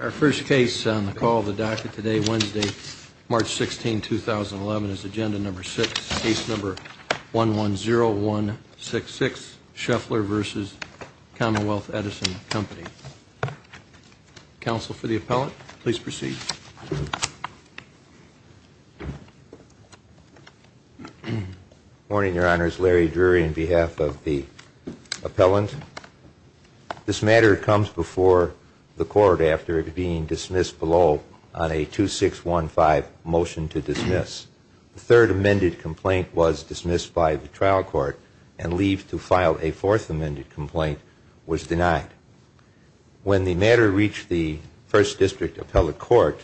Our first case on the call of the docket today, Wednesday, March 16, 2011, is Agenda Number 6, Case Number 110166, Sheffler v. Commonwealth Edison Company. Counsel for the appellant, please proceed. Morning, Your Honors. Larry Drury on behalf of the appellant. This matter comes before the court after it being dismissed below on a 2615 motion to dismiss. The third amended complaint was dismissed by the trial court and leave to file a fourth amended complaint was denied. When the matter reached the First District Appellate Court,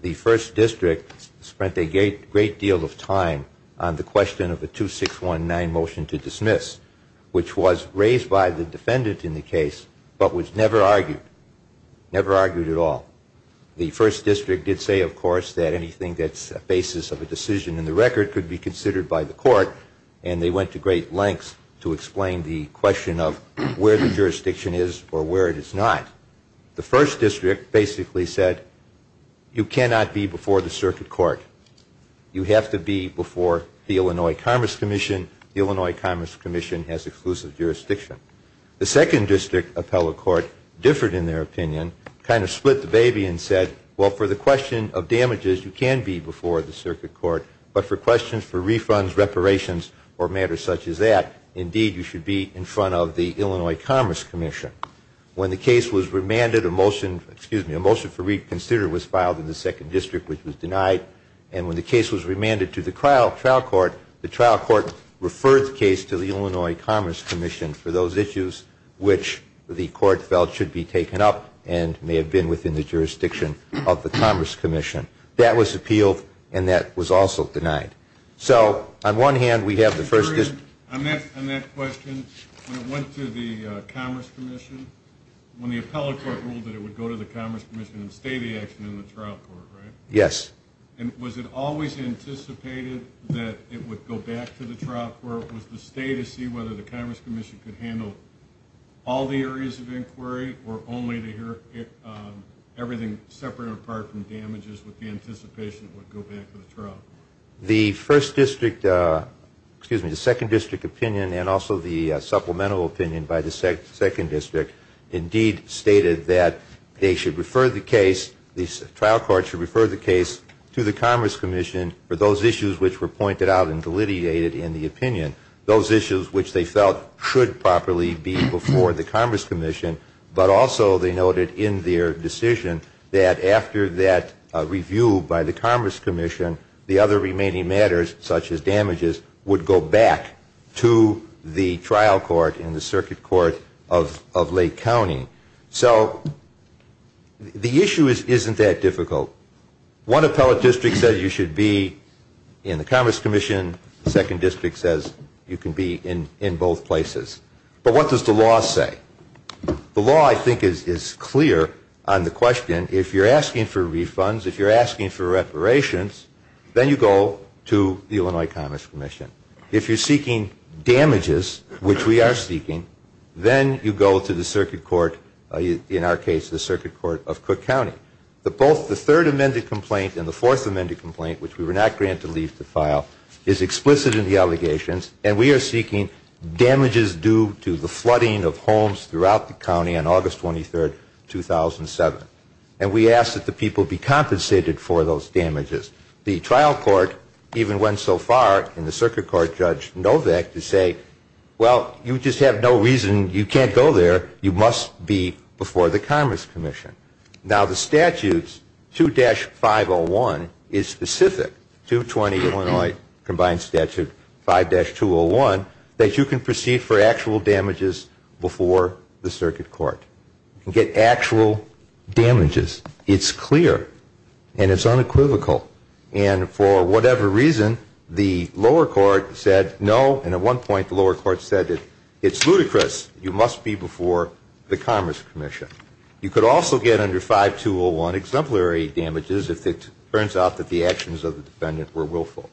the First District spent a great deal of time on the question of a 2619 motion to dismiss, which was raised by the defendant in the case, but was never argued, never argued at all. The First District did say, of course, that anything that's a basis of a decision in the record could be considered by the court, and they went to great lengths to explain the question of where the jurisdiction is or where it is not. The First District basically said, you cannot be before the circuit court. You have to be before the Illinois Commerce Commission. The Illinois Commerce Commission has exclusive jurisdiction. The Second District Appellate Court differed in their opinion, kind of split the baby and said, well, for the question of damages, you can be before the circuit court, but for questions for refunds, reparations, or matters such as that, indeed, you should be in front of the Illinois Commerce Commission. When the case was remanded, a motion, excuse me, a motion for reconsider was filed in the Second District, which was denied. And when the case was remanded to the trial court, the trial court referred the case to the Illinois Commerce Commission for those issues which the court felt should be taken up and may have been within the jurisdiction of the Commerce Commission. That was appealed, and that was also denied. So on one hand, we have the First District. On that question, when it went to the Commerce Commission, when the Appellate Court ruled that it would go to the Commerce Commission and stay the action in the trial court, right? Yes. And was it always anticipated that it would go back to the trial court? Or was the stay to see whether the Commerce Commission could handle all the areas of inquiry or only to hear everything separate and apart from damages with the anticipation it would go back to the trial court? The First District, excuse me, the Second District opinion, and also the supplemental opinion by the Second District, indeed stated that they should refer the case, the trial court should refer the case to the Commerce Commission for those issues which were pointed out and delineated in the opinion, those issues which they felt should properly be before the Commerce Commission, but also they noted in their decision that after that review by the Commerce Commission, the other remaining matters, such as damages, would go back to the trial court and the circuit court of Lake County. So the issue isn't that difficult. One appellate district said you should be in the Commerce Commission. The Second District says you can be in both places. But what does the law say? The law, I think, is clear on the question. If you're asking for refunds, if you're asking for reparations, then you go to the Illinois Commerce Commission. If you're seeking damages, which we are seeking, then you go to the circuit court, in our case, the circuit court of Cook County. But both the Third Amendment complaint and the Fourth Amendment complaint, which we were not granted leave to file, is explicit in the allegations, and we are seeking damages due to the flooding of homes throughout the county on August 23, 2007. And we ask that the people be compensated for those damages. The trial court even went so far in the circuit court, Judge Novak, to say, well, you just have no reason, you can't go there, you must be before the Commerce Commission. Now, the statutes 2-501 is specific to 20 Illinois combined statute 5-201, that you can proceed for actual damages before the circuit court. You can get actual damages. It's clear, and it's unequivocal. And for whatever reason, the lower court said no, and at one point the lower court said it's ludicrous, you must be before the Commerce Commission. You could also get under 5-201 exemplary damages if it turns out that the actions of the defendant were willful.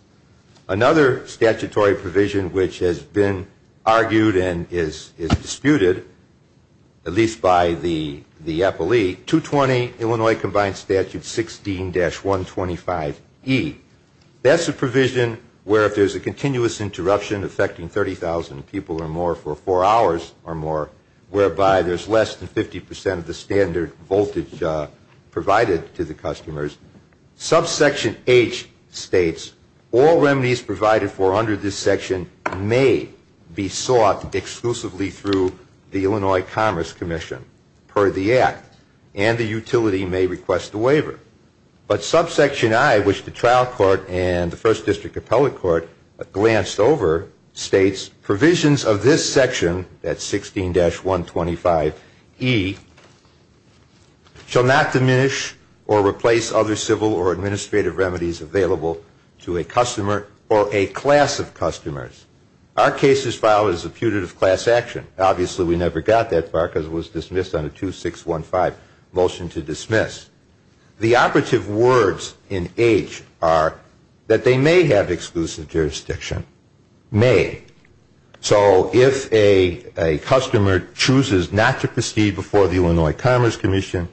Another statutory provision which has been argued and is disputed, at least by the appellee, 220 Illinois combined statute 16-125E. That's a provision where if there's a continuous interruption affecting 30,000 people or more for four hours or more, whereby there's less than 50% of the standard voltage provided to the customers, subsection H states all remedies provided for under this section may be sought exclusively through the Illinois Commerce Commission per the act, and the utility may request a waiver. But subsection I, which the trial court and the first district appellate court glanced over, states provisions of this section, that's 16-125E, shall not diminish or replace other civil or administrative remedies available to a customer or a class of customers. Our case is filed as a putative class action. Obviously, we never got that far because it was dismissed on a 2615 motion to dismiss. The operative words in H are that they may have exclusive jurisdiction, may. So if a customer chooses not to proceed before the Illinois Commerce Commission,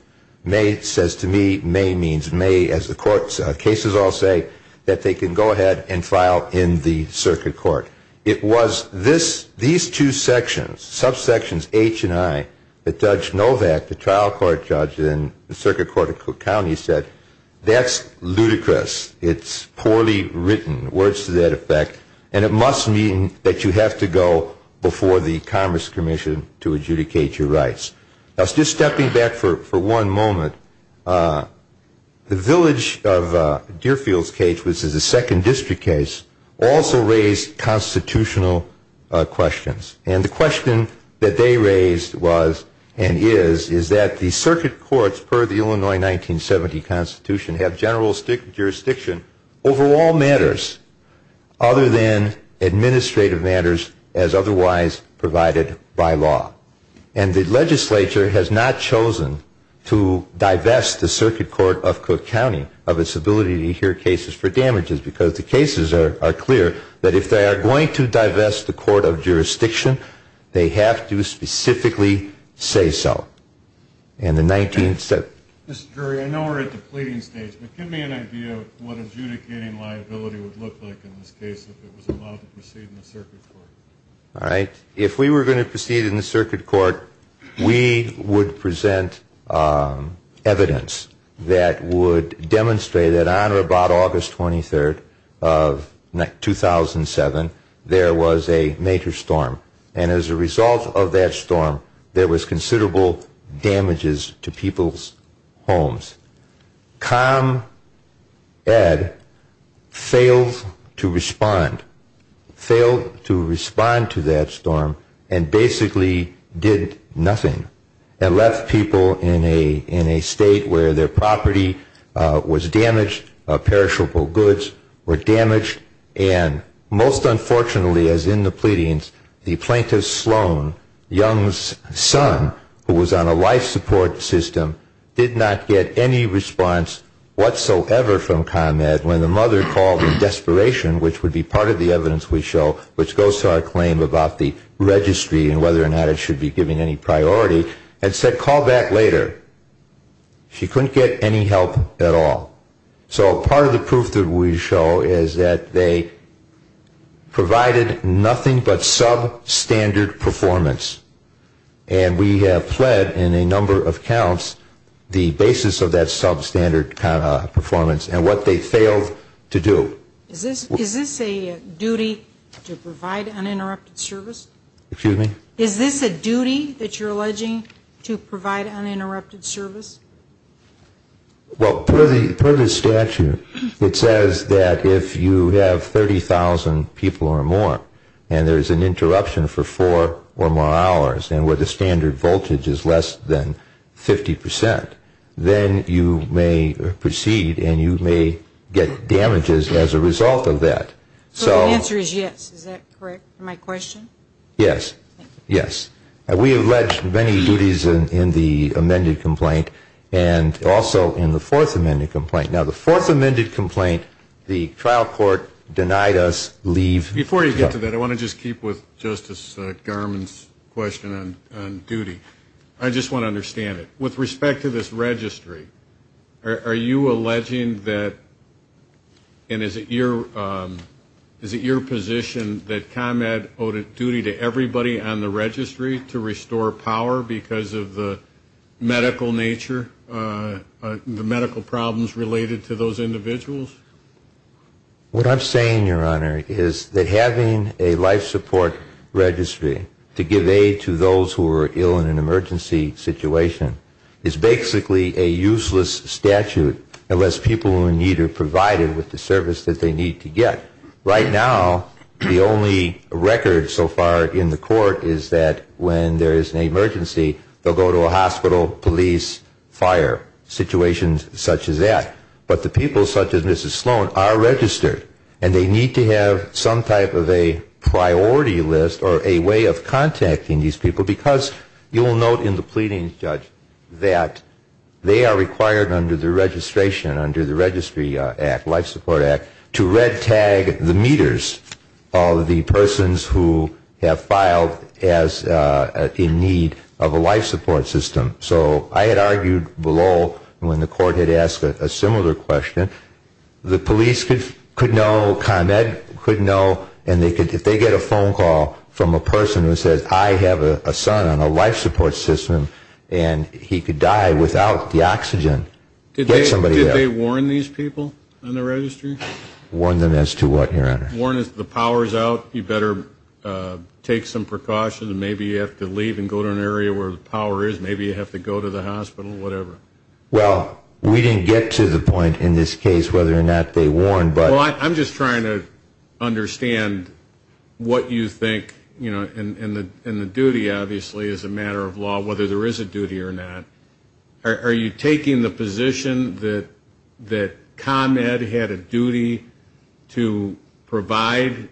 may says to me, may means may as the court's cases all say, that they can go ahead and file in the circuit court. It was these two sections, subsections H and I, that Judge Novak, the trial court judge in the circuit court of Cook County, said, that's ludicrous. It's poorly written, words to that effect, and it must mean that you have to go before the Commerce Commission to adjudicate your rights. Just stepping back for one moment, the village of Deerfields Cage, which is a second district case, also raised constitutional questions. And the question that they raised was and is, is that the circuit courts per the Illinois 1970 Constitution have general jurisdiction over all matters other than administrative matters as otherwise provided by law. And the legislature has not chosen to divest the circuit court of Cook County of its ability to hear cases for damages because the cases are clear that if they are going to divest the court of jurisdiction, they have to specifically say so. Mr. Jury, I know we're at the pleading stage, but give me an idea of what adjudicating liability would look like in this case if it was allowed to proceed in the circuit court. All right. If we were going to proceed in the circuit court, we would present evidence that would demonstrate that on or about August 23rd of 2007, there was a major storm. And as a result of that storm, there was considerable damages to people's homes. ComEd failed to respond. Failed to respond to that storm and basically did nothing and left people in a state where their property was damaged, perishable goods were damaged, and most unfortunately, as in the pleadings, the plaintiff, Sloan Young's son, who was on a life support system, did not get any response whatsoever from ComEd when the mother called in desperation, which would be part of the evidence we show, which goes to our claim about the registry and whether or not it should be given any priority, and said call back later. She couldn't get any help at all. So part of the proof that we show is that they provided nothing but substandard performance. And we have pled in a number of counts the basis of that substandard performance and what they failed to do. Is this a duty to provide uninterrupted service? Excuse me? Is this a duty that you're alleging to provide uninterrupted service? Well, per the statute, it says that if you have 30,000 people or more and there is an interruption for four or more hours and where the standard voltage is less than 50 percent, then you may proceed and you may get damages as a result of that. So the answer is yes. Is that correct for my question? Yes. Yes. We have alleged many duties in the amended complaint and also in the fourth amended complaint. Now, the fourth amended complaint, the trial court denied us leave. Before you get to that, I want to just keep with Justice Garmon's question on duty. I just want to understand it. With respect to this registry, are you alleging that and is it your position that ComEd owed a duty to everybody on the registry to restore power because of the medical nature, the medical problems related to those individuals? What I'm saying, Your Honor, is that having a life support registry to give aid to those who are ill in an emergency situation is basically a useless statute unless people in need are provided with the service that they need to get. Right now, the only record so far in the court is that when there is an emergency, they'll go to a hospital, police, fire, situations such as that. But the people such as Mrs. Sloan are registered, and they need to have some type of a priority list or a way of contacting these people because you will note in the pleading, Judge, that they are required under the registration, under the registry act, life support act, to red tag the meters of the persons who have filed in need of a life support system. So I had argued below when the court had asked a similar question, the police could know, ComEd could know, and if they get a phone call from a person who says, I have a son on a life support system, and he could die without the oxygen, get somebody there. Did they warn these people on the registry? Warn them as to what, Your Honor? Warn them that the power is out, you better take some precautions, and maybe you have to leave and go to an area where the power is, maybe you have to go to the hospital, whatever. Well, we didn't get to the point in this case whether or not they warned. Well, I'm just trying to understand what you think, you know, and the duty obviously is a matter of law, whether there is a duty or not. Are you taking the position that ComEd had a duty to provide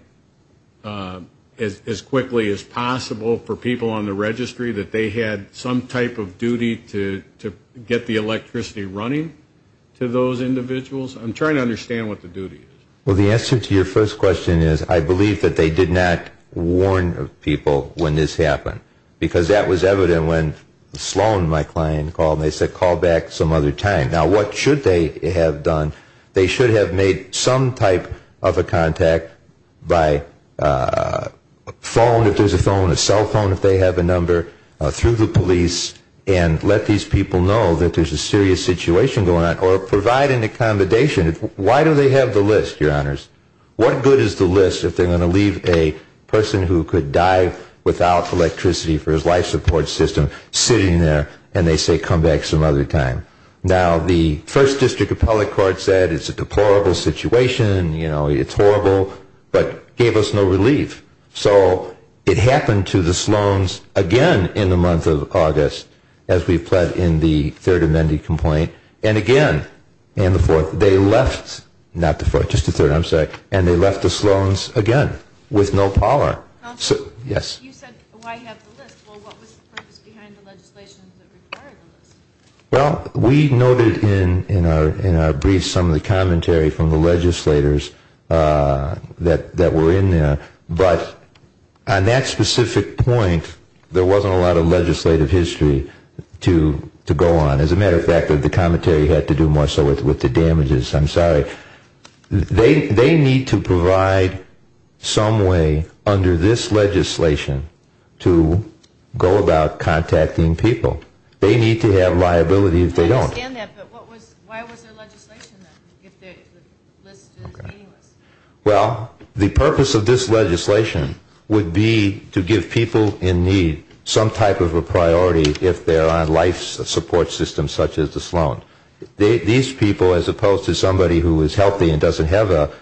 as quickly as possible for people on the registry, that they had some type of duty to get the electricity running to those individuals? I'm trying to understand what the duty is. Well, the answer to your first question is I believe that they did not warn people when this happened, because that was evident when Sloan, my client, called, and they said call back some other time. Now, what should they have done? They should have made some type of a contact by phone, if there's a phone, a cell phone if they have a number, through the police, and let these people know that there's a serious situation going on, or provide an accommodation. Why do they have the list, Your Honors? What good is the list if they're going to leave a person who could die without electricity for his life support system sitting there and they say come back some other time? Now, the first district appellate court said it's a deplorable situation, you know, it's horrible, but gave us no relief. So it happened to the Sloans again in the month of August, as we've pledged in the third amended complaint, and again in the fourth, they left, not the fourth, just the third, I'm sorry, and they left the Sloans again with no parlor. Counselor? Yes. You said why have the list. Well, what was the purpose behind the legislation that required the list? Well, we noted in our brief some of the commentary from the legislators that were in there, but on that specific point, there wasn't a lot of legislative history to go on. As a matter of fact, the commentary had to do more so with the damages. I'm sorry. They need to provide some way under this legislation to go about contacting people. They need to have liability if they don't. I understand that, but what was, why was there legislation then, if the list is meaningless? Well, the purpose of this legislation would be to give people in need some type of a priority if there are life support systems such as the Sloan. These people, as opposed to somebody who is healthy and doesn't have a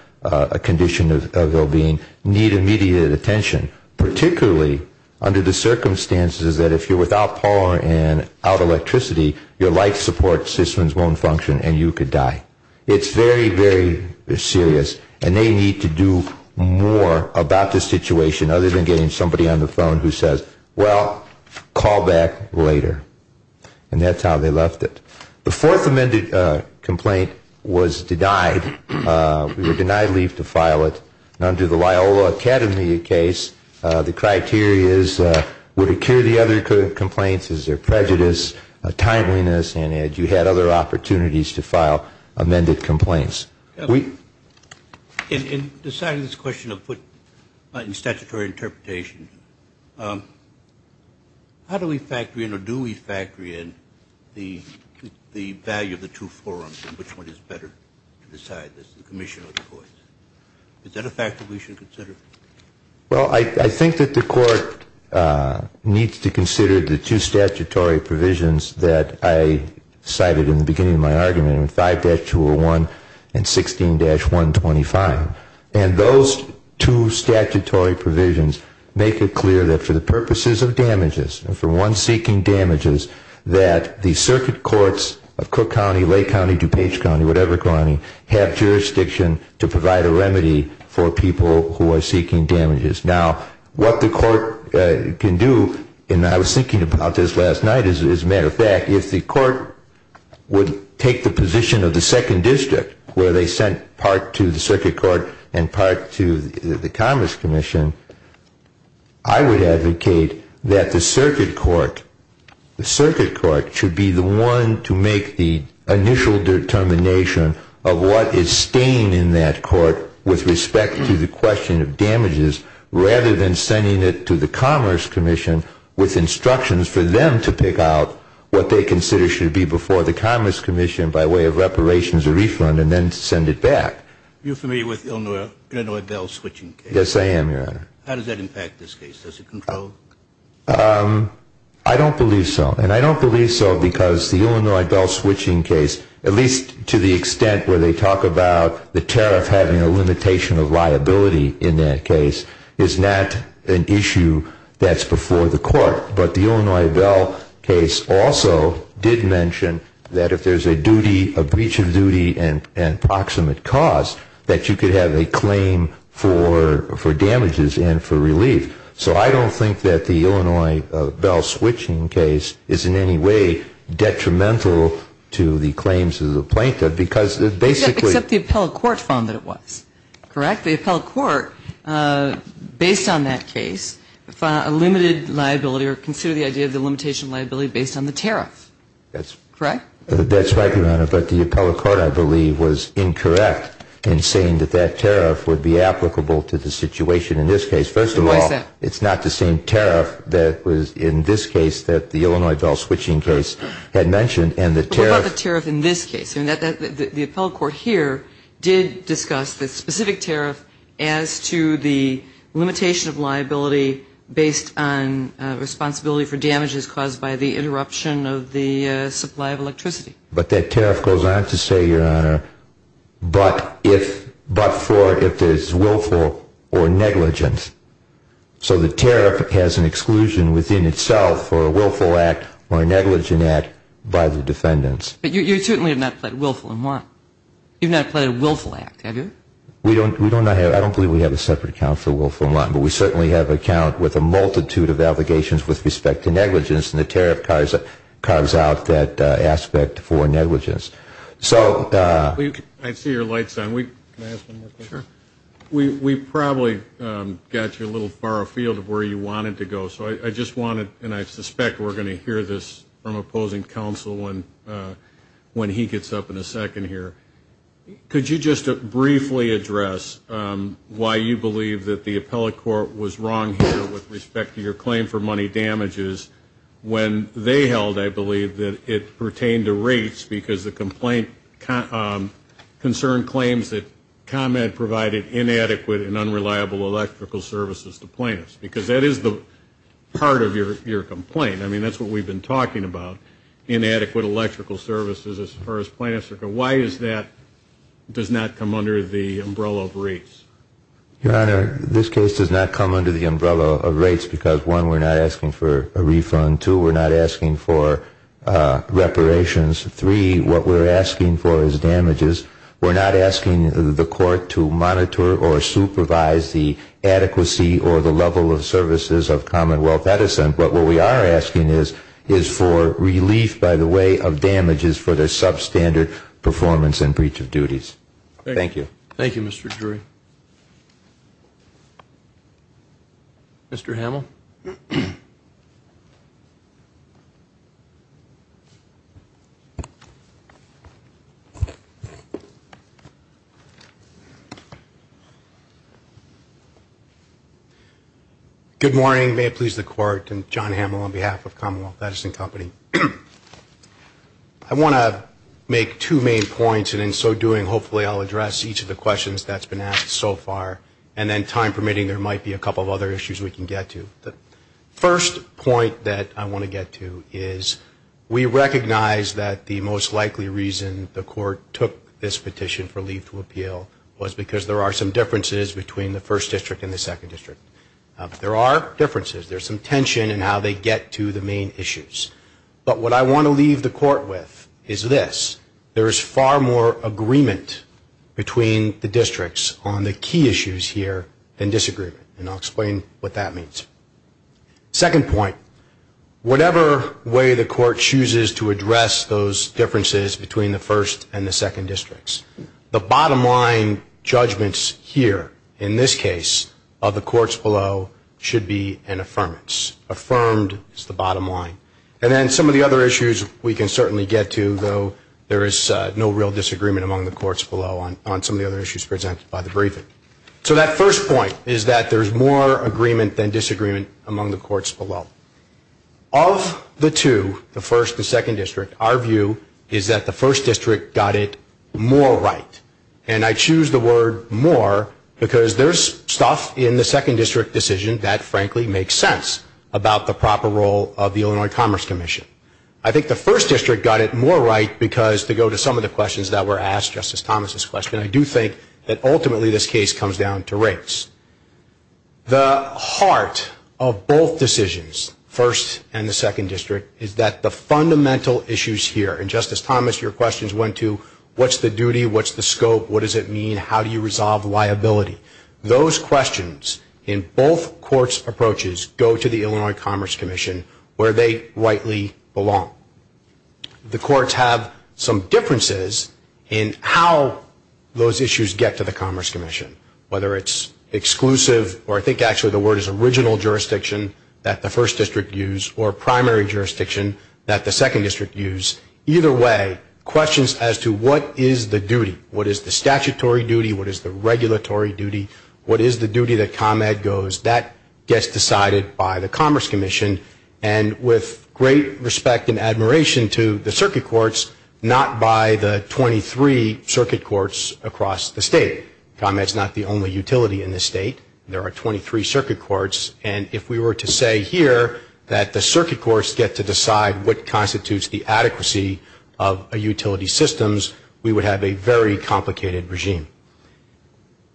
condition of well-being, need immediate attention, particularly under the circumstances that if you're without power and out of electricity, your life support systems won't function and you could die. It's very, very serious, and they need to do more about this situation other than getting somebody on the phone who says, well, call back later. And that's how they left it. The fourth amended complaint was denied. We were denied leave to file it. Under the Loyola Academy case, the criteria is would it cure the other complaints, is there prejudice, timeliness, and you had other opportunities to file amended complaints. In deciding this question to put in statutory interpretation, how do we factory in or do we factory in the value of the two forums and which one is better to decide, the commission or the courts? Is that a factor we should consider? Well, I think that the court needs to consider the two statutory provisions that I cited in the beginning of my argument in 5-201 and 16-125. And those two statutory provisions make it clear that for the purposes of damages and for one seeking damages, that the circuit courts of Cook County, Lake County, DuPage County, whatever county, have jurisdiction to provide a remedy for people who are seeking damages. Now, what the court can do, and I was thinking about this last night as a matter of fact, if the court would take the position of the second district where they sent part to the circuit court and part to the Commerce Commission, I would advocate that the circuit court, the circuit court should be the one to make the initial determination of what is staying in that court with respect to the question of damages rather than sending it to the Commerce Commission with instructions for them to pick out what they consider should be before the Commerce Commission by way of reparations or refund and then send it back. Are you familiar with the Illinois bell switching case? Yes, I am, Your Honor. How does that impact this case? Does it control? I don't believe so. And I don't believe so because the Illinois bell switching case, at least to the extent where they talk about the tariff having a limitation of liability in that case, is not an issue that's before the court. But the Illinois bell case also did mention that if there's a duty, a breach of duty and proximate cause, that you could have a claim for damages and for relief. So I don't think that the Illinois bell switching case is in any way detrimental to the claims of the plaintiff because it basically ‑‑ Except the appellate court found that it was. Correct? Except the appellate court, based on that case, found a limited liability or considered the idea of the limitation of liability based on the tariff. Correct? That's right, Your Honor, but the appellate court, I believe, was incorrect in saying that that tariff would be applicable to the situation in this case. First of all, it's not the same tariff that was in this case that the Illinois bell switching case had mentioned. But what about the tariff in this case? The appellate court here did discuss the specific tariff as to the limitation of liability based on responsibility for damages caused by the interruption of the supply of electricity. But that tariff goes on to say, Your Honor, but if ‑‑ but for if there's willful or negligence. So the tariff has an exclusion within itself for a willful act or a negligent act by the defendants. But you certainly have not played willful and want. You've not played a willful act, have you? We don't ‑‑ I don't believe we have a separate account for willful and want, but we certainly have an account with a multitude of allegations with respect to negligence, and the tariff carves out that aspect for negligence. So ‑‑ I see your light's on. Can I ask one more question? Sure. We probably got you a little far afield of where you wanted to go, and I suspect we're going to hear this from opposing counsel when he gets up in a second here. Could you just briefly address why you believe that the appellate court was wrong here with respect to your claim for money damages when they held, I believe, that it pertained to rates because the complaint concerned claims that ComEd provided inadequate and unreliable electrical services to plaintiffs? Because that is the part of your complaint. I mean, that's what we've been talking about, inadequate electrical services as far as plaintiffs are concerned. Why is that does not come under the umbrella of rates? Your Honor, this case does not come under the umbrella of rates because, one, we're not asking for a refund. Two, we're not asking for reparations. Three, what we're asking for is damages. We're not asking the court to monitor or supervise the adequacy or the level of services of Commonwealth Edison, but what we are asking is for relief by the way of damages for their substandard performance and breach of duties. Thank you. Thank you, Mr. Drury. Thank you. Mr. Hamill? Good morning. May it please the Court. I'm John Hamill on behalf of Commonwealth Edison Company. I want to make two main points, and in so doing, hopefully I'll address each of the questions that's been asked so far, and then, time permitting, there might be a couple of other issues we can get to. The first point that I want to get to is we recognize that the most likely reason the court took this petition for leave to appeal was because there are some differences between the First District and the Second District. There are differences. There's some tension in how they get to the main issues. But what I want to leave the court with is this. There is far more agreement between the districts on the key issues here than disagreement, and I'll explain what that means. Second point. Whatever way the court chooses to address those differences between the First and the Second Districts, the bottom line judgments here, in this case, of the courts below, should be an affirmance. Affirmed is the bottom line. And then some of the other issues we can certainly get to, though there is no real disagreement among the courts below on some of the other issues presented by the briefing. So that first point is that there's more agreement than disagreement among the courts below. Of the two, the First and Second District, our view is that the First District got it more right. And I choose the word more because there's stuff in the Second District decision that, frankly, makes sense about the proper role of the Illinois Commerce Commission. I think the First District got it more right because, to go to some of the questions that were asked, Justice Thomas' question, I do think that ultimately this case comes down to rates. The heart of both decisions, First and the Second District, is that the fundamental issues here, and, Justice Thomas, your questions went to what's the duty, what's the scope, what does it mean, how do you resolve liability. Those questions in both courts' approaches go to the Illinois Commerce Commission, where they rightly belong. The courts have some differences in how those issues get to the Commerce Commission, whether it's exclusive or I think actually the word is original jurisdiction that the First District used or primary jurisdiction that the Second District used. Either way, questions as to what is the duty, what is the statutory duty, what is the regulatory duty, what is the duty that ComEd goes, that gets decided by the Commerce Commission. And with great respect and admiration to the circuit courts, not by the 23 circuit courts across the state. ComEd's not the only utility in this state. There are 23 circuit courts, and if we were to say here that the circuit courts get to decide what constitutes the adequacy of a utility systems, we would have a very complicated regime.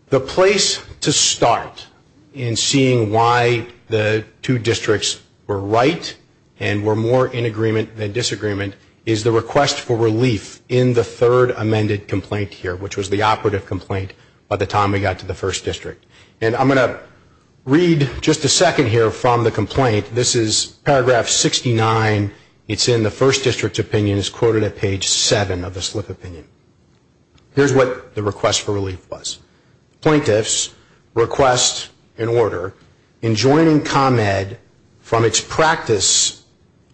The place to start in seeing why the two districts were right and were more in agreement than disagreement is the request for relief in the third amended complaint here, which was the operative complaint by the time we got to the First District. And I'm going to read just a second here from the complaint. This is paragraph 69. It's in the First District's opinion. It's quoted at page 7 of the slip opinion. Here's what the request for relief was. Plaintiffs request an order in joining ComEd from its practice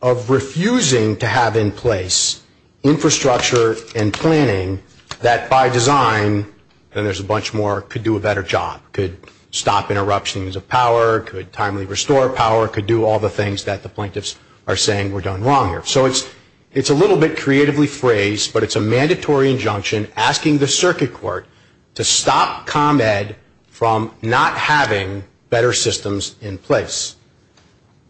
of refusing to have in place infrastructure and planning that by design, and there's a bunch more, could do a better job. Could stop interruptions of power. Could timely restore power. Could do all the things that the plaintiffs are saying were done wrong here. So it's a little bit creatively phrased, but it's a mandatory injunction asking the circuit court to stop ComEd from not having better systems in place.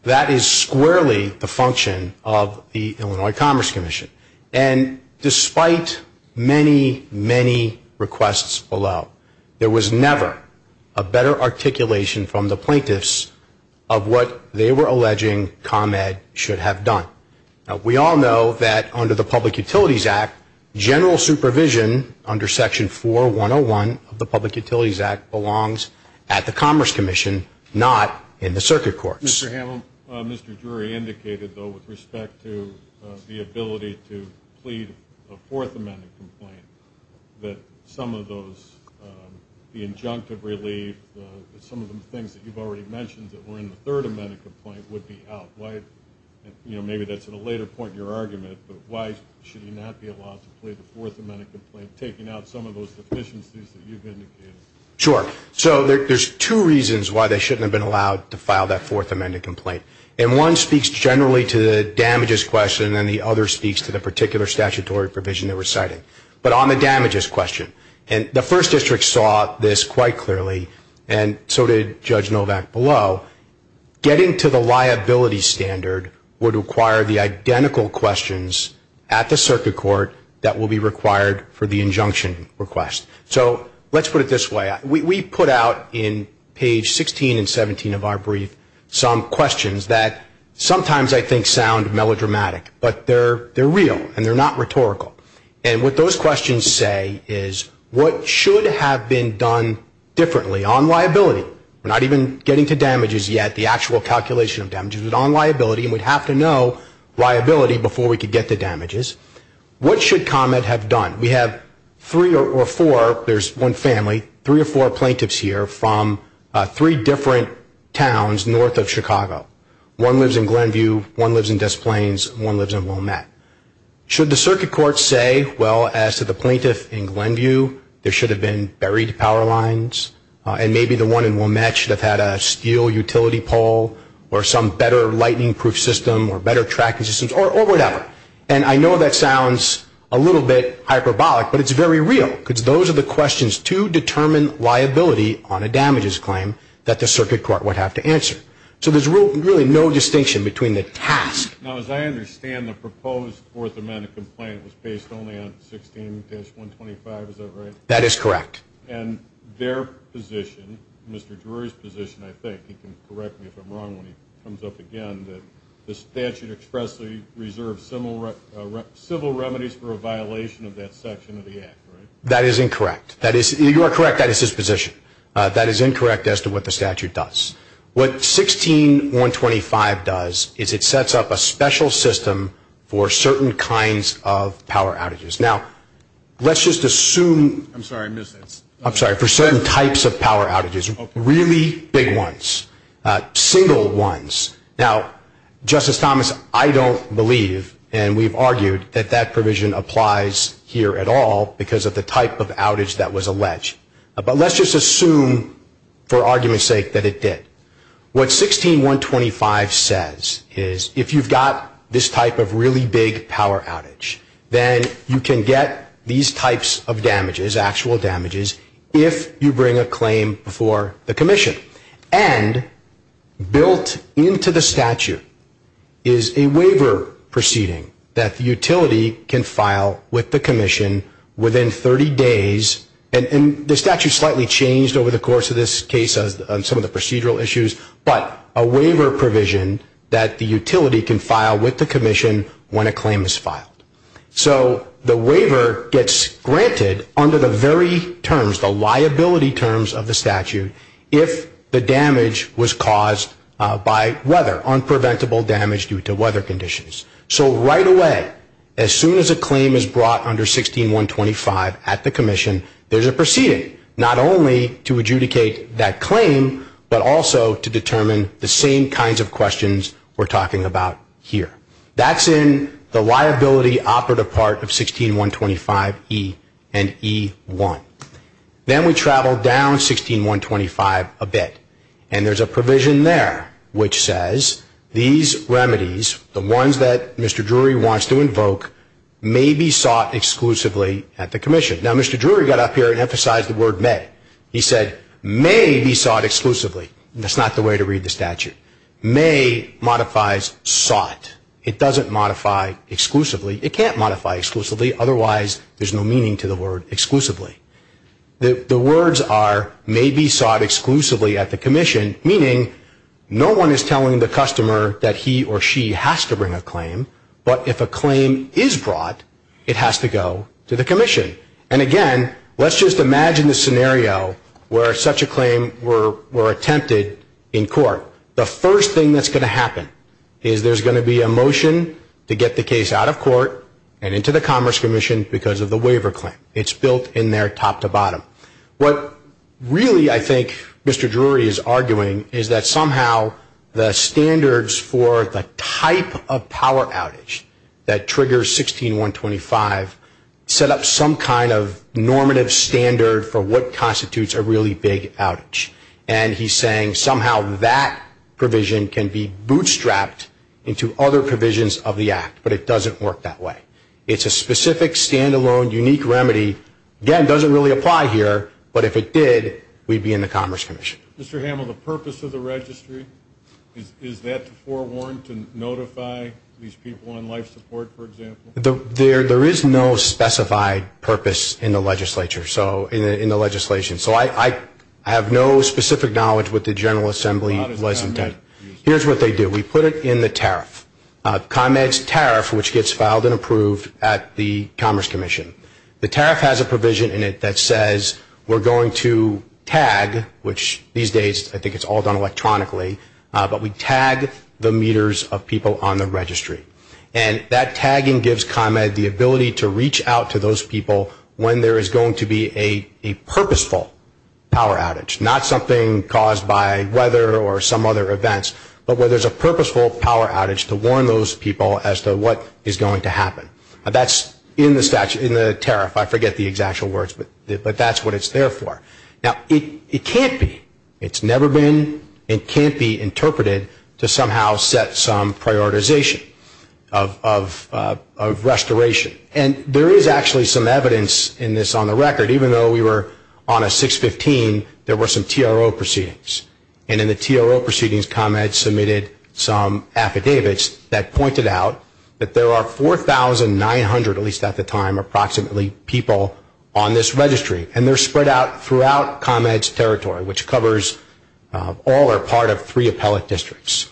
That is squarely the function of the Illinois Commerce Commission. And despite many, many requests below, there was never a better articulation from the plaintiffs of what they were alleging ComEd should have done. Now, we all know that under the Public Utilities Act, general supervision under section 4101 of the Public Utilities Act belongs at the Commerce Commission, not in the circuit courts. Mr. Hamel, Mr. Drury indicated, though, with respect to the ability to plead a Fourth Amendment complaint, that some of those, the injunctive relief, some of the things that you've already mentioned that were in the Third Amendment complaint would be out. Why, you know, maybe that's at a later point in your argument, but why should you not be allowed to plead the Fourth Amendment complaint, taking out some of those deficiencies that you've indicated? Sure. So there's two reasons why they shouldn't have been allowed to file that Fourth Amendment complaint. And one speaks generally to the damages question, and the other speaks to the particular statutory provision they were citing. But on the damages question, and the First District saw this quite clearly, and so did Judge Novak below, getting to the liability standard would require the identical questions at the circuit court that will be required for the injunction request. So let's put it this way. We put out in page 16 and 17 of our brief some questions that sometimes I think sound melodramatic, but they're real, and they're not rhetorical. And what those questions say is what should have been done differently on liability? We're not even getting to damages yet, the actual calculation of damages, but on liability, and we'd have to know liability before we could get to damages. What should ComEd have done? We have three or four, there's one family, three or four plaintiffs here from three different towns north of Chicago. One lives in Glenview, one lives in Des Plaines, one lives in Wilmette. Should the circuit court say, well, as to the plaintiff in Glenview, there should have been buried power lines, and maybe the one in Wilmette should have had a steel utility pole, or some better lightning-proof system, or better tracking systems, or whatever? And I know that sounds a little bit hyperbolic, but it's very real, because those are the questions to determine liability on a damages claim that the circuit court would have to answer. So there's really no distinction between the task. Now, as I understand, the proposed Fourth Amendment complaint was based only on 16-125, is that right? That is correct. And their position, Mr. Drury's position, I think, he can correct me if I'm wrong when he comes up again, that the statute expressly reserves civil remedies for a violation of that section of the act, right? That is incorrect. You are correct. That is his position. That is incorrect as to what the statute does. What 16-125 does is it sets up a special system for certain kinds of power outages. Now, let's just assume for certain types of power outages, really big ones, single ones. Now, Justice Thomas, I don't believe, and we've argued, that that provision applies here at all because of the type of outage that was alleged. But let's just assume, for argument's sake, that it did. What 16-125 says is if you've got this type of really big power outage, then you can get these types of damages, actual damages, if you bring a claim before the commission. And built into the statute is a waiver proceeding that the utility can file with the commission within 30 days. And the statute slightly changed over the course of this case on some of the procedural issues, but a waiver provision that the utility can file with the commission when a claim is filed. So the waiver gets granted under the very terms, the liability terms of the statute, if the damage was caused by weather, unpreventable damage due to weather conditions. So right away, as soon as a claim is brought under 16-125 at the commission, there's a proceeding, not only to adjudicate that claim, but also to determine the same kinds of questions we're talking about here. That's in the liability operative part of 16-125E and E-1. Then we travel down 16-125 a bit, and there's a provision there which says these remedies, the ones that Mr. Drury wants to invoke, may be sought exclusively at the commission. Now, Mr. Drury got up here and emphasized the word may. He said may be sought exclusively. That's not the way to read the statute. May modifies sought. It doesn't modify exclusively. It can't modify exclusively, otherwise there's no meaning to the word exclusively. The words are may be sought exclusively at the commission, meaning no one is telling the customer that he or she has to bring a claim, but if a claim is brought, it has to go to the commission. And again, let's just imagine the scenario where such a claim were attempted in court. The first thing that's going to happen is there's going to be a motion to get the case out of court and into the Commerce Commission because of the waiver claim. It's built in there top to bottom. What really I think Mr. Drury is arguing is that somehow the standards for the type of power outage that triggers 16-125 set up some kind of normative standard for what constitutes a really big outage. And he's saying somehow that provision can be bootstrapped into other provisions of the act, but it doesn't work that way. It's a specific, stand-alone, unique remedy. Again, it doesn't really apply here, but if it did, we'd be in the Commerce Commission. Mr. Hamill, the purpose of the registry, is that to forewarn, to notify these people on life support, for example? There is no specified purpose in the legislature, in the legislation. So I have no specific knowledge what the General Assembly was intended. Here's what they do. We put it in the tariff, ComEd's tariff, which gets filed and approved at the Commerce Commission. The tariff has a provision in it that says we're going to tag, which these days I think it's all done electronically, but we tag the meters of people on the registry. And that tagging gives ComEd the ability to reach out to those people when there is going to be a purposeful power outage, not something caused by weather or some other events, but where there's a purposeful power outage to warn those people as to what is going to happen. That's in the statute, in the tariff. I forget the exact words, but that's what it's there for. Now, it can't be. It's never been and can't be interpreted to somehow set some prioritization of restoration. And there is actually some evidence in this on the record. Even though we were on a 615, there were some TRO proceedings. And in the TRO proceedings, ComEd submitted some affidavits that pointed out that there are 4,900, at least at the time, approximately, people on this registry. And they're spread out throughout ComEd's territory, which covers all or part of three appellate districts.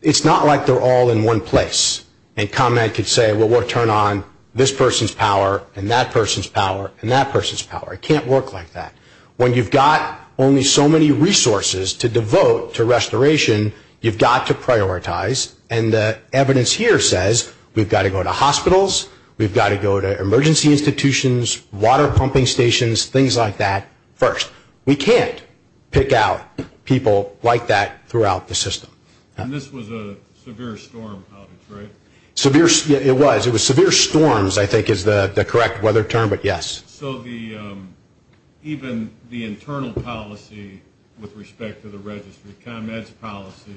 It's not like they're all in one place and ComEd could say, well, we'll turn on this person's power and that person's power and that person's power. It can't work like that. When you've got only so many resources to devote to restoration, you've got to prioritize. And the evidence here says we've got to go to hospitals, we've got to go to emergency institutions, water pumping stations, things like that first. We can't pick out people like that throughout the system. And this was a severe storm outage, right? It was. It was severe storms, I think, is the correct weather term, but yes. So even the internal policy with respect to the registry, ComEd's policy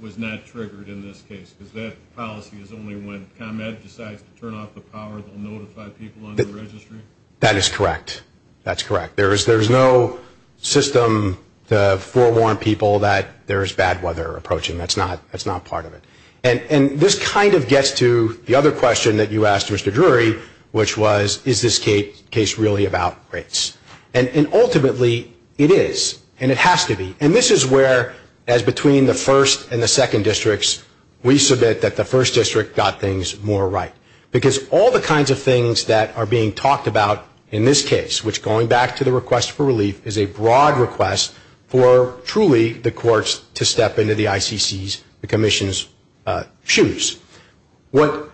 was not triggered in this case because that policy is only when ComEd decides to turn off the power, they'll notify people on the registry? That is correct. That's correct. There's no system to forewarn people that there's bad weather approaching. That's not part of it. And this kind of gets to the other question that you asked, Mr. Drury, which was, is this case really about rates? And ultimately, it is, and it has to be. And this is where, as between the first and the second districts, we submit that the first district got things more right. Because all the kinds of things that are being talked about in this case, which going back to the request for relief, is a broad request for truly the courts to step into the ICC's, the commission's, shoes. What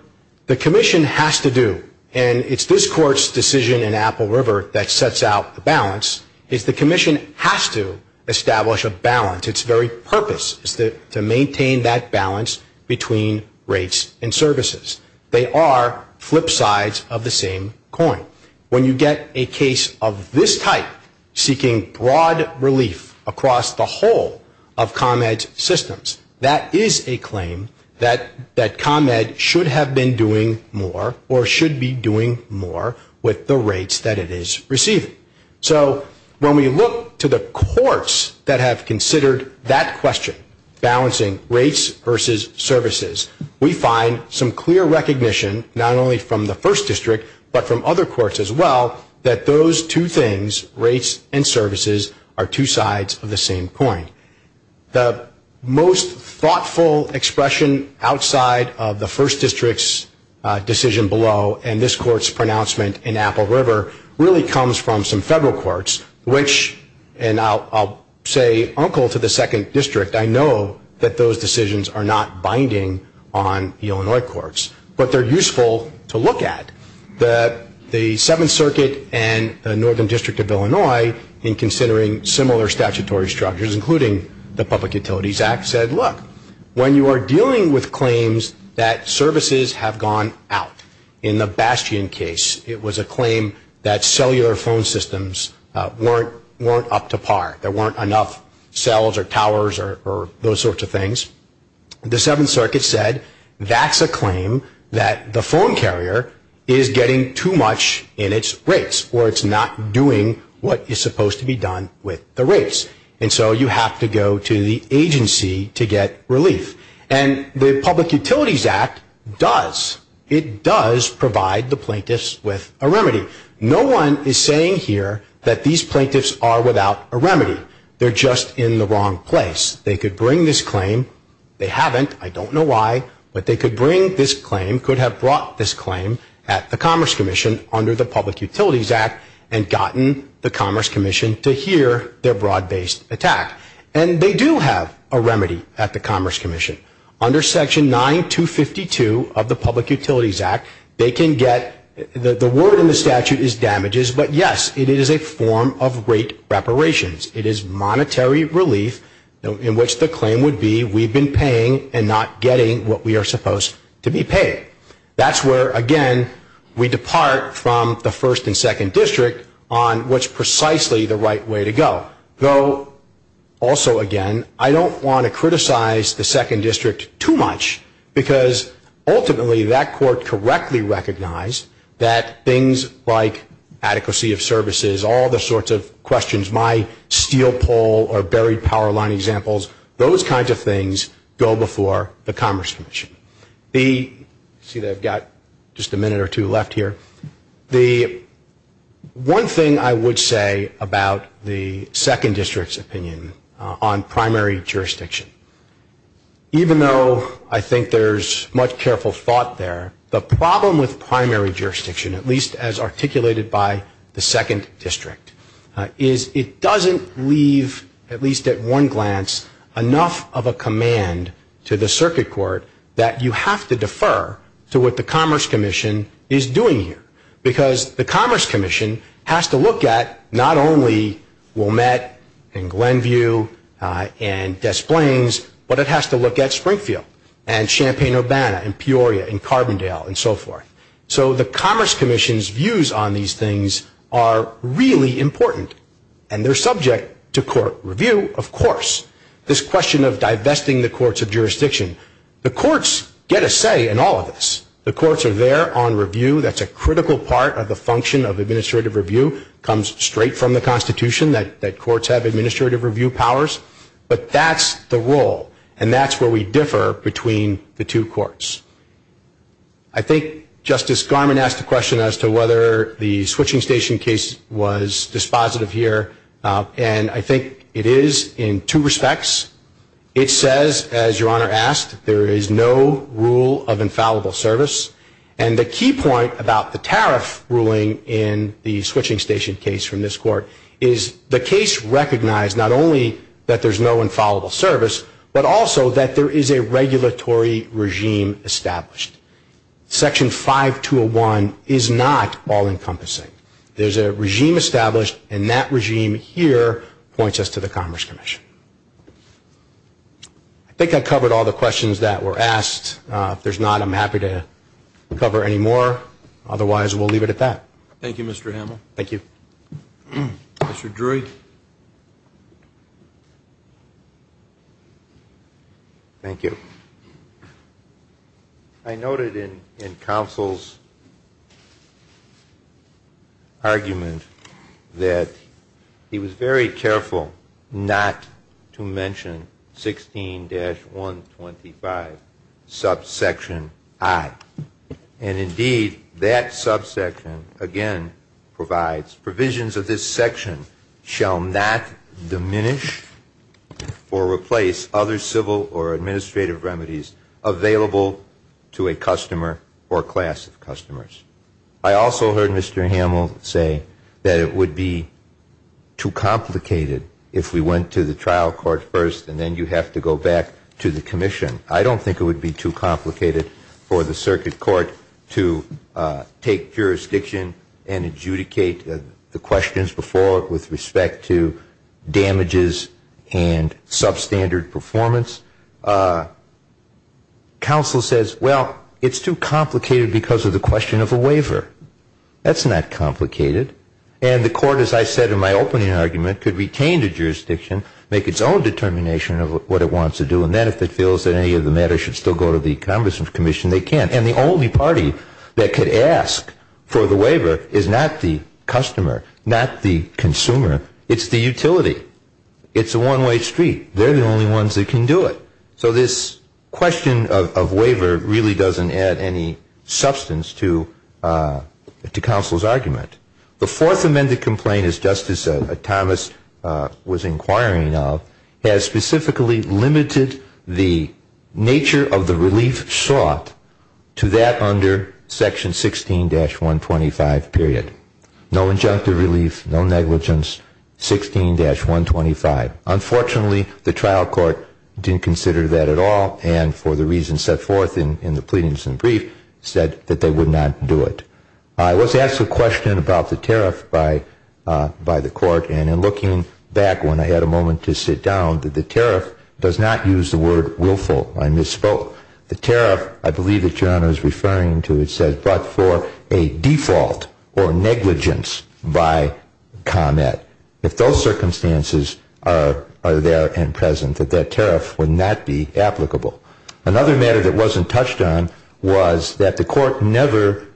the commission has to do, and it's this court's decision in Apple River that sets out the balance, is the commission has to establish a balance. Its very purpose is to maintain that balance between rates and services. They are flip sides of the same coin. When you get a case of this type seeking broad relief across the whole of ComEd's systems, that is a claim that ComEd should have been doing more or should be doing more with the rates that it is receiving. So when we look to the courts that have considered that question, balancing rates versus services, we find some clear recognition, not only from the first district, but from other courts as well, that those two things, rates and services, are two sides of the same coin. The most thoughtful expression outside of the first district's decision below and this court's pronouncement in Apple River really comes from some federal courts, which, and I'll say uncle to the second district, I know that those decisions are not binding on Illinois courts, but they're useful to look at. The Seventh Circuit and the Northern District of Illinois, in considering similar statutory structures, including the Public Utilities Act, said, look, when you are dealing with claims that services have gone out in the Bastion case, it was a claim that cellular phone systems weren't up to par. There weren't enough cells or towers or those sorts of things. The Seventh Circuit said that's a claim that the phone carrier is getting too much in its rates or it's not doing what is supposed to be done with the rates. And so you have to go to the agency to get relief. And the Public Utilities Act does, it does provide the plaintiffs with a remedy. No one is saying here that these plaintiffs are without a remedy. They're just in the wrong place. They could bring this claim. They haven't. I don't know why, but they could bring this claim, could have brought this claim at the Commerce Commission under the Public Utilities Act and gotten the Commerce Commission to hear their broad-based attack. And they do have a remedy at the Commerce Commission. Under Section 9252 of the Public Utilities Act, they can get, the word in the statute is damages, but yes, it is a form of rate reparations. It is monetary relief in which the claim would be we've been paying and not getting what we are supposed to be paying. That's where, again, we depart from the First and Second District on what's precisely the right way to go. Also, again, I don't want to criticize the Second District too much, because ultimately that court correctly recognized that things like adequacy of services, all the sorts of questions, my steel pole or buried power line examples, those kinds of things go before the Commerce Commission. See, I've got just a minute or two left here. The one thing I would say about the Second District's opinion on primary jurisdiction, even though I think there's much careful thought there, the problem with primary jurisdiction, at least as articulated by the Second District, is it doesn't leave, at least at one glance, enough of a command to the circuit court that you have to defer to what the Commerce Commission is doing here. Because the Commerce Commission has to look at not only Wilmette and Glenview and Des Plaines, but it has to look at Springfield and Champaign-Urbana and Peoria and Carbondale and so forth. So the Commerce Commission's views on these things are really important, and they're subject to court review, of course. This question of divesting the courts of jurisdiction, the courts get a say in all of this. The courts are there on review. That's a critical part of the function of administrative review. It comes straight from the Constitution that courts have administrative review powers. But that's the role, and that's where we differ between the two courts. I think Justice Garmon asked a question as to whether the switching station case was dispositive here, and I think it is in two respects. It says, as Your Honor asked, there is no rule of infallible service. And the key point about the tariff ruling in the switching station case from this court is the case recognized not only that there's no infallible service, but also that there is a regulatory regime established. Section 5201 is not all-encompassing. There's a regime established, and that regime here points us to the Commerce Commission. I think I've covered all the questions that were asked. If there's not, I'm happy to cover any more. Otherwise, we'll leave it at that. Thank you, Mr. Hamel. Thank you. Mr. Drury? Thank you. I noted in counsel's argument that he was very careful not to mention 16-125, subsection I. And indeed, that subsection, again, provides provisions of this section shall not diminish or replace other civil or administrative remedies available to a customer or class of customers. I also heard Mr. Hamel say that it would be too complicated if we went to the trial court first and then you have to go back to the commission. I don't think it would be too complicated for the circuit court to take jurisdiction and adjudicate the questions before with respect to damages and substandard performance. Counsel says, well, it's too complicated because of the question of a waiver. That's not complicated. And the court, as I said in my opening argument, could retain the jurisdiction, make its own determination of what it wants to do, and then if it feels that any of the matters should still go to the Congressional Commission, they can. And the only party that could ask for the waiver is not the customer, not the consumer. It's the utility. It's a one-way street. They're the only ones that can do it. So this question of waiver really doesn't add any substance to counsel's argument. The fourth amended complaint, as Justice Thomas was inquiring of, has specifically limited the nature of the relief sought to that under Section 16-125 period. No injunctive relief, no negligence, 16-125. Unfortunately, the trial court didn't consider that at all, and for the reasons set forth in the pleadings and brief, said that they would not do it. I was asked a question about the tariff by the court, and in looking back when I had a moment to sit down, that the tariff does not use the word willful. I misspoke. The tariff, I believe that Your Honor is referring to, it says brought for a default or negligence by Comet. If those circumstances are there and present, that that tariff would not be applicable. Another matter that wasn't touched on was that the court never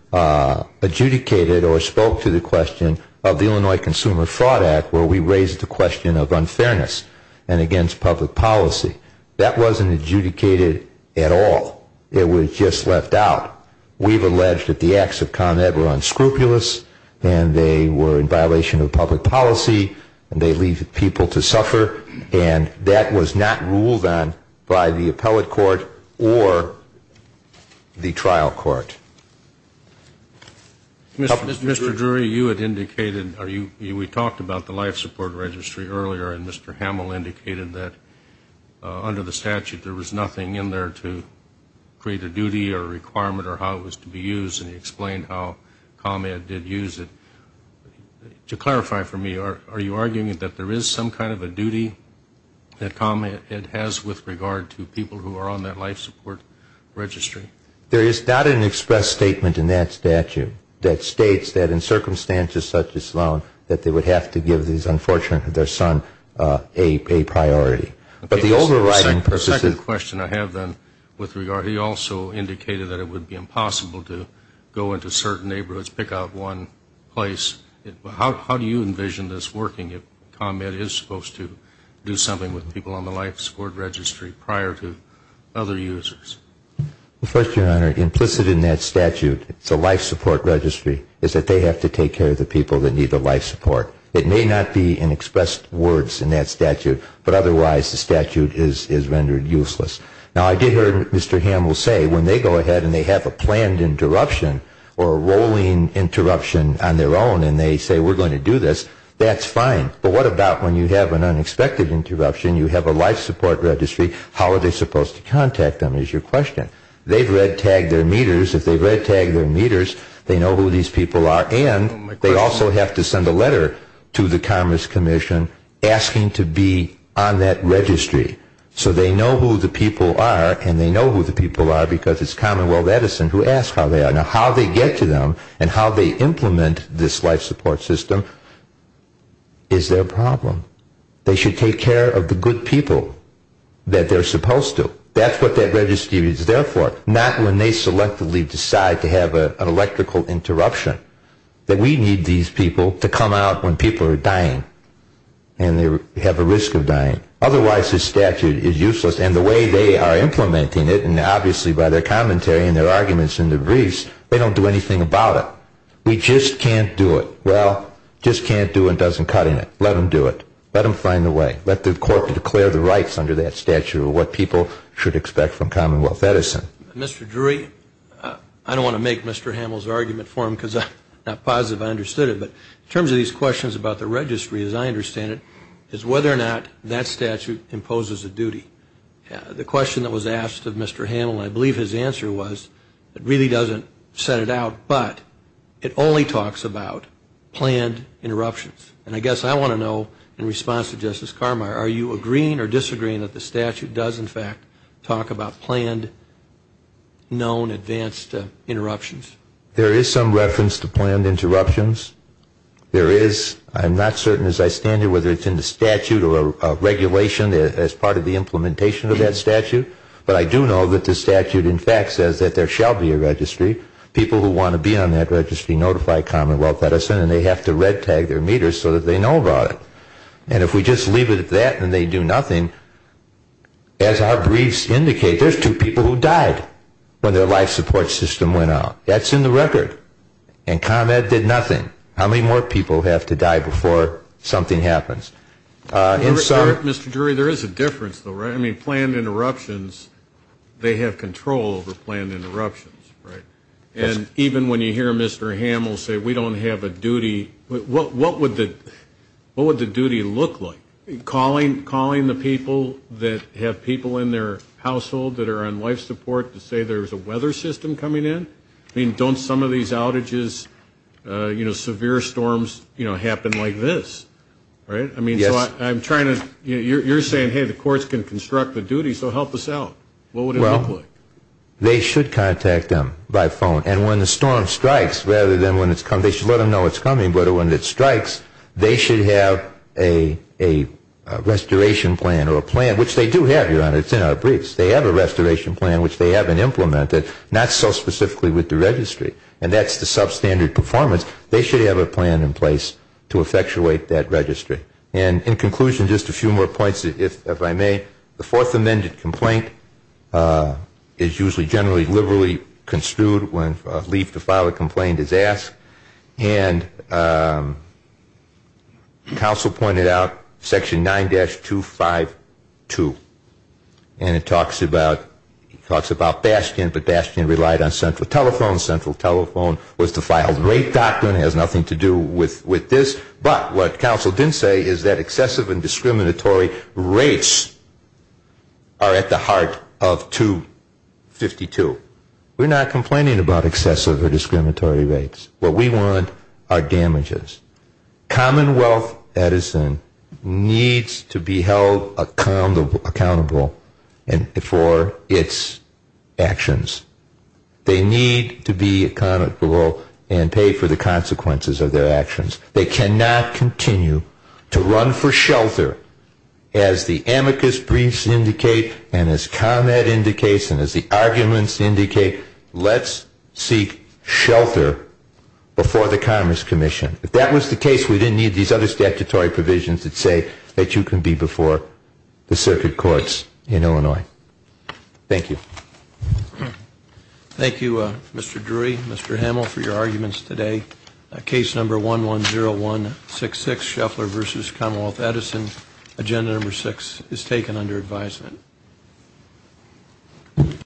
adjudicated or spoke to the question of the Illinois Consumer Fraud Act, where we raised the question of unfairness and against public policy. That wasn't adjudicated at all. It was just left out. We've alleged that the acts of Con Ed were unscrupulous, and they were in violation of public policy, and they leave people to suffer, and that was not ruled on by the appellate court or the trial court. Mr. Drury, you had indicated, we talked about the life support registry earlier, and Mr. Hamill indicated that under the statute there was nothing in there to create a duty or a requirement or how it was to be used, and he explained how Con Ed did use it. To clarify for me, are you arguing that there is some kind of a duty that Con Ed has with regard to people who are on that life support registry? There is not an express statement in that statute that states that in circumstances such as Sloan that they would have to give their son a priority. The second question I have then with regard, he also indicated that it would be impossible to go into certain neighborhoods, pick out one place. How do you envision this working if Con Ed is supposed to do something with people on the life support registry prior to other users? First, Your Honor, implicit in that statute, the life support registry, is that they have to take care of the people that need the life support. It may not be in expressed words in that statute, but otherwise the statute is rendered useless. Now, I did hear Mr. Hamill say when they go ahead and they have a planned interruption or a rolling interruption on their own and they say we're going to do this, that's fine. But what about when you have an unexpected interruption, you have a life support registry, how are they supposed to contact them is your question. They've red-tagged their meters. If they've red-tagged their meters, they know who these people are, and they also have to send a letter to the Commerce Commission asking to be on that registry so they know who the people are and they know who the people are because it's Commonwealth Edison who asked how they are. Now, how they get to them and how they implement this life support system is their problem. They should take care of the good people that they're supposed to. That's what that registry is there for, not when they selectively decide to have an electrical interruption, that we need these people to come out when people are dying and they have a risk of dying. Otherwise, this statute is useless, and the way they are implementing it, and obviously by their commentary and their arguments in the briefs, they don't do anything about it. We just can't do it. Well, just can't do it doesn't cut it. Let them do it. Let them find a way. Let the court declare the rights under that statute of what people should expect from Commonwealth Edison. Mr. Drury, I don't want to make Mr. Hamill's argument for him because I'm not positive I understood it, but in terms of these questions about the registry, as I understand it, is whether or not that statute imposes a duty. The question that was asked of Mr. Hamill, and I believe his answer was it really doesn't set it out, but it only talks about planned interruptions. And I guess I want to know, in response to Justice Carmeier, are you agreeing or disagreeing that the statute does, in fact, talk about planned, known, advanced interruptions? There is some reference to planned interruptions. There is. I'm not certain as I stand here whether it's in the statute or a regulation as part of the implementation of that statute, but I do know that the statute, in fact, says that there shall be a registry. People who want to be on that registry notify Commonwealth Edison and they have to red tag their meters so that they know about it. And if we just leave it at that and they do nothing, as our briefs indicate, there's two people who died when their life support system went out. That's in the record. And ComEd did nothing. How many more people have to die before something happens? Mr. Drury, there is a difference, though, right? I mean, planned interruptions, they have control over planned interruptions, right? And even when you hear Mr. Hamill say we don't have a duty, what would the duty look like? Calling the people that have people in their household that are on life support to say there's a weather system coming in? I mean, don't some of these outages, you know, severe storms, you know, happen like this, right? I mean, so I'm trying to you're saying, hey, the courts can construct the duty, so help us out. What would it look like? They should contact them by phone. And when the storm strikes, rather than when it's coming, they should let them know it's coming, but when it strikes, they should have a restoration plan or a plan, which they do have, Your Honor. It's in our briefs. They have a restoration plan, which they haven't implemented, not so specifically with the registry. And that's the substandard performance. They should have a plan in place to effectuate that registry. And in conclusion, just a few more points, if I may. The Fourth Amendment complaint is usually generally liberally construed when leave to file a complaint is asked. And counsel pointed out Section 9-252. And it talks about Bastion, but Bastion relied on central telephone. Central telephone was the filed rate doctrine. It has nothing to do with this. But what counsel didn't say is that excessive and discriminatory rates are at the heart of 252. We're not complaining about excessive or discriminatory rates. What we want are damages. Commonwealth Edison needs to be held accountable for its actions. They need to be accountable and pay for the consequences of their actions. They cannot continue to run for shelter. As the amicus briefs indicate and as comment indicates and as the arguments indicate, let's seek shelter before the Commerce Commission. If that was the case, we didn't need these other statutory provisions that say that you can be before the circuit courts in Illinois. Thank you. Thank you, Mr. Drury, Mr. Hamel, for your arguments today. Case number 110166, Shuffler v. Commonwealth Edison. Agenda number six is taken under advisement.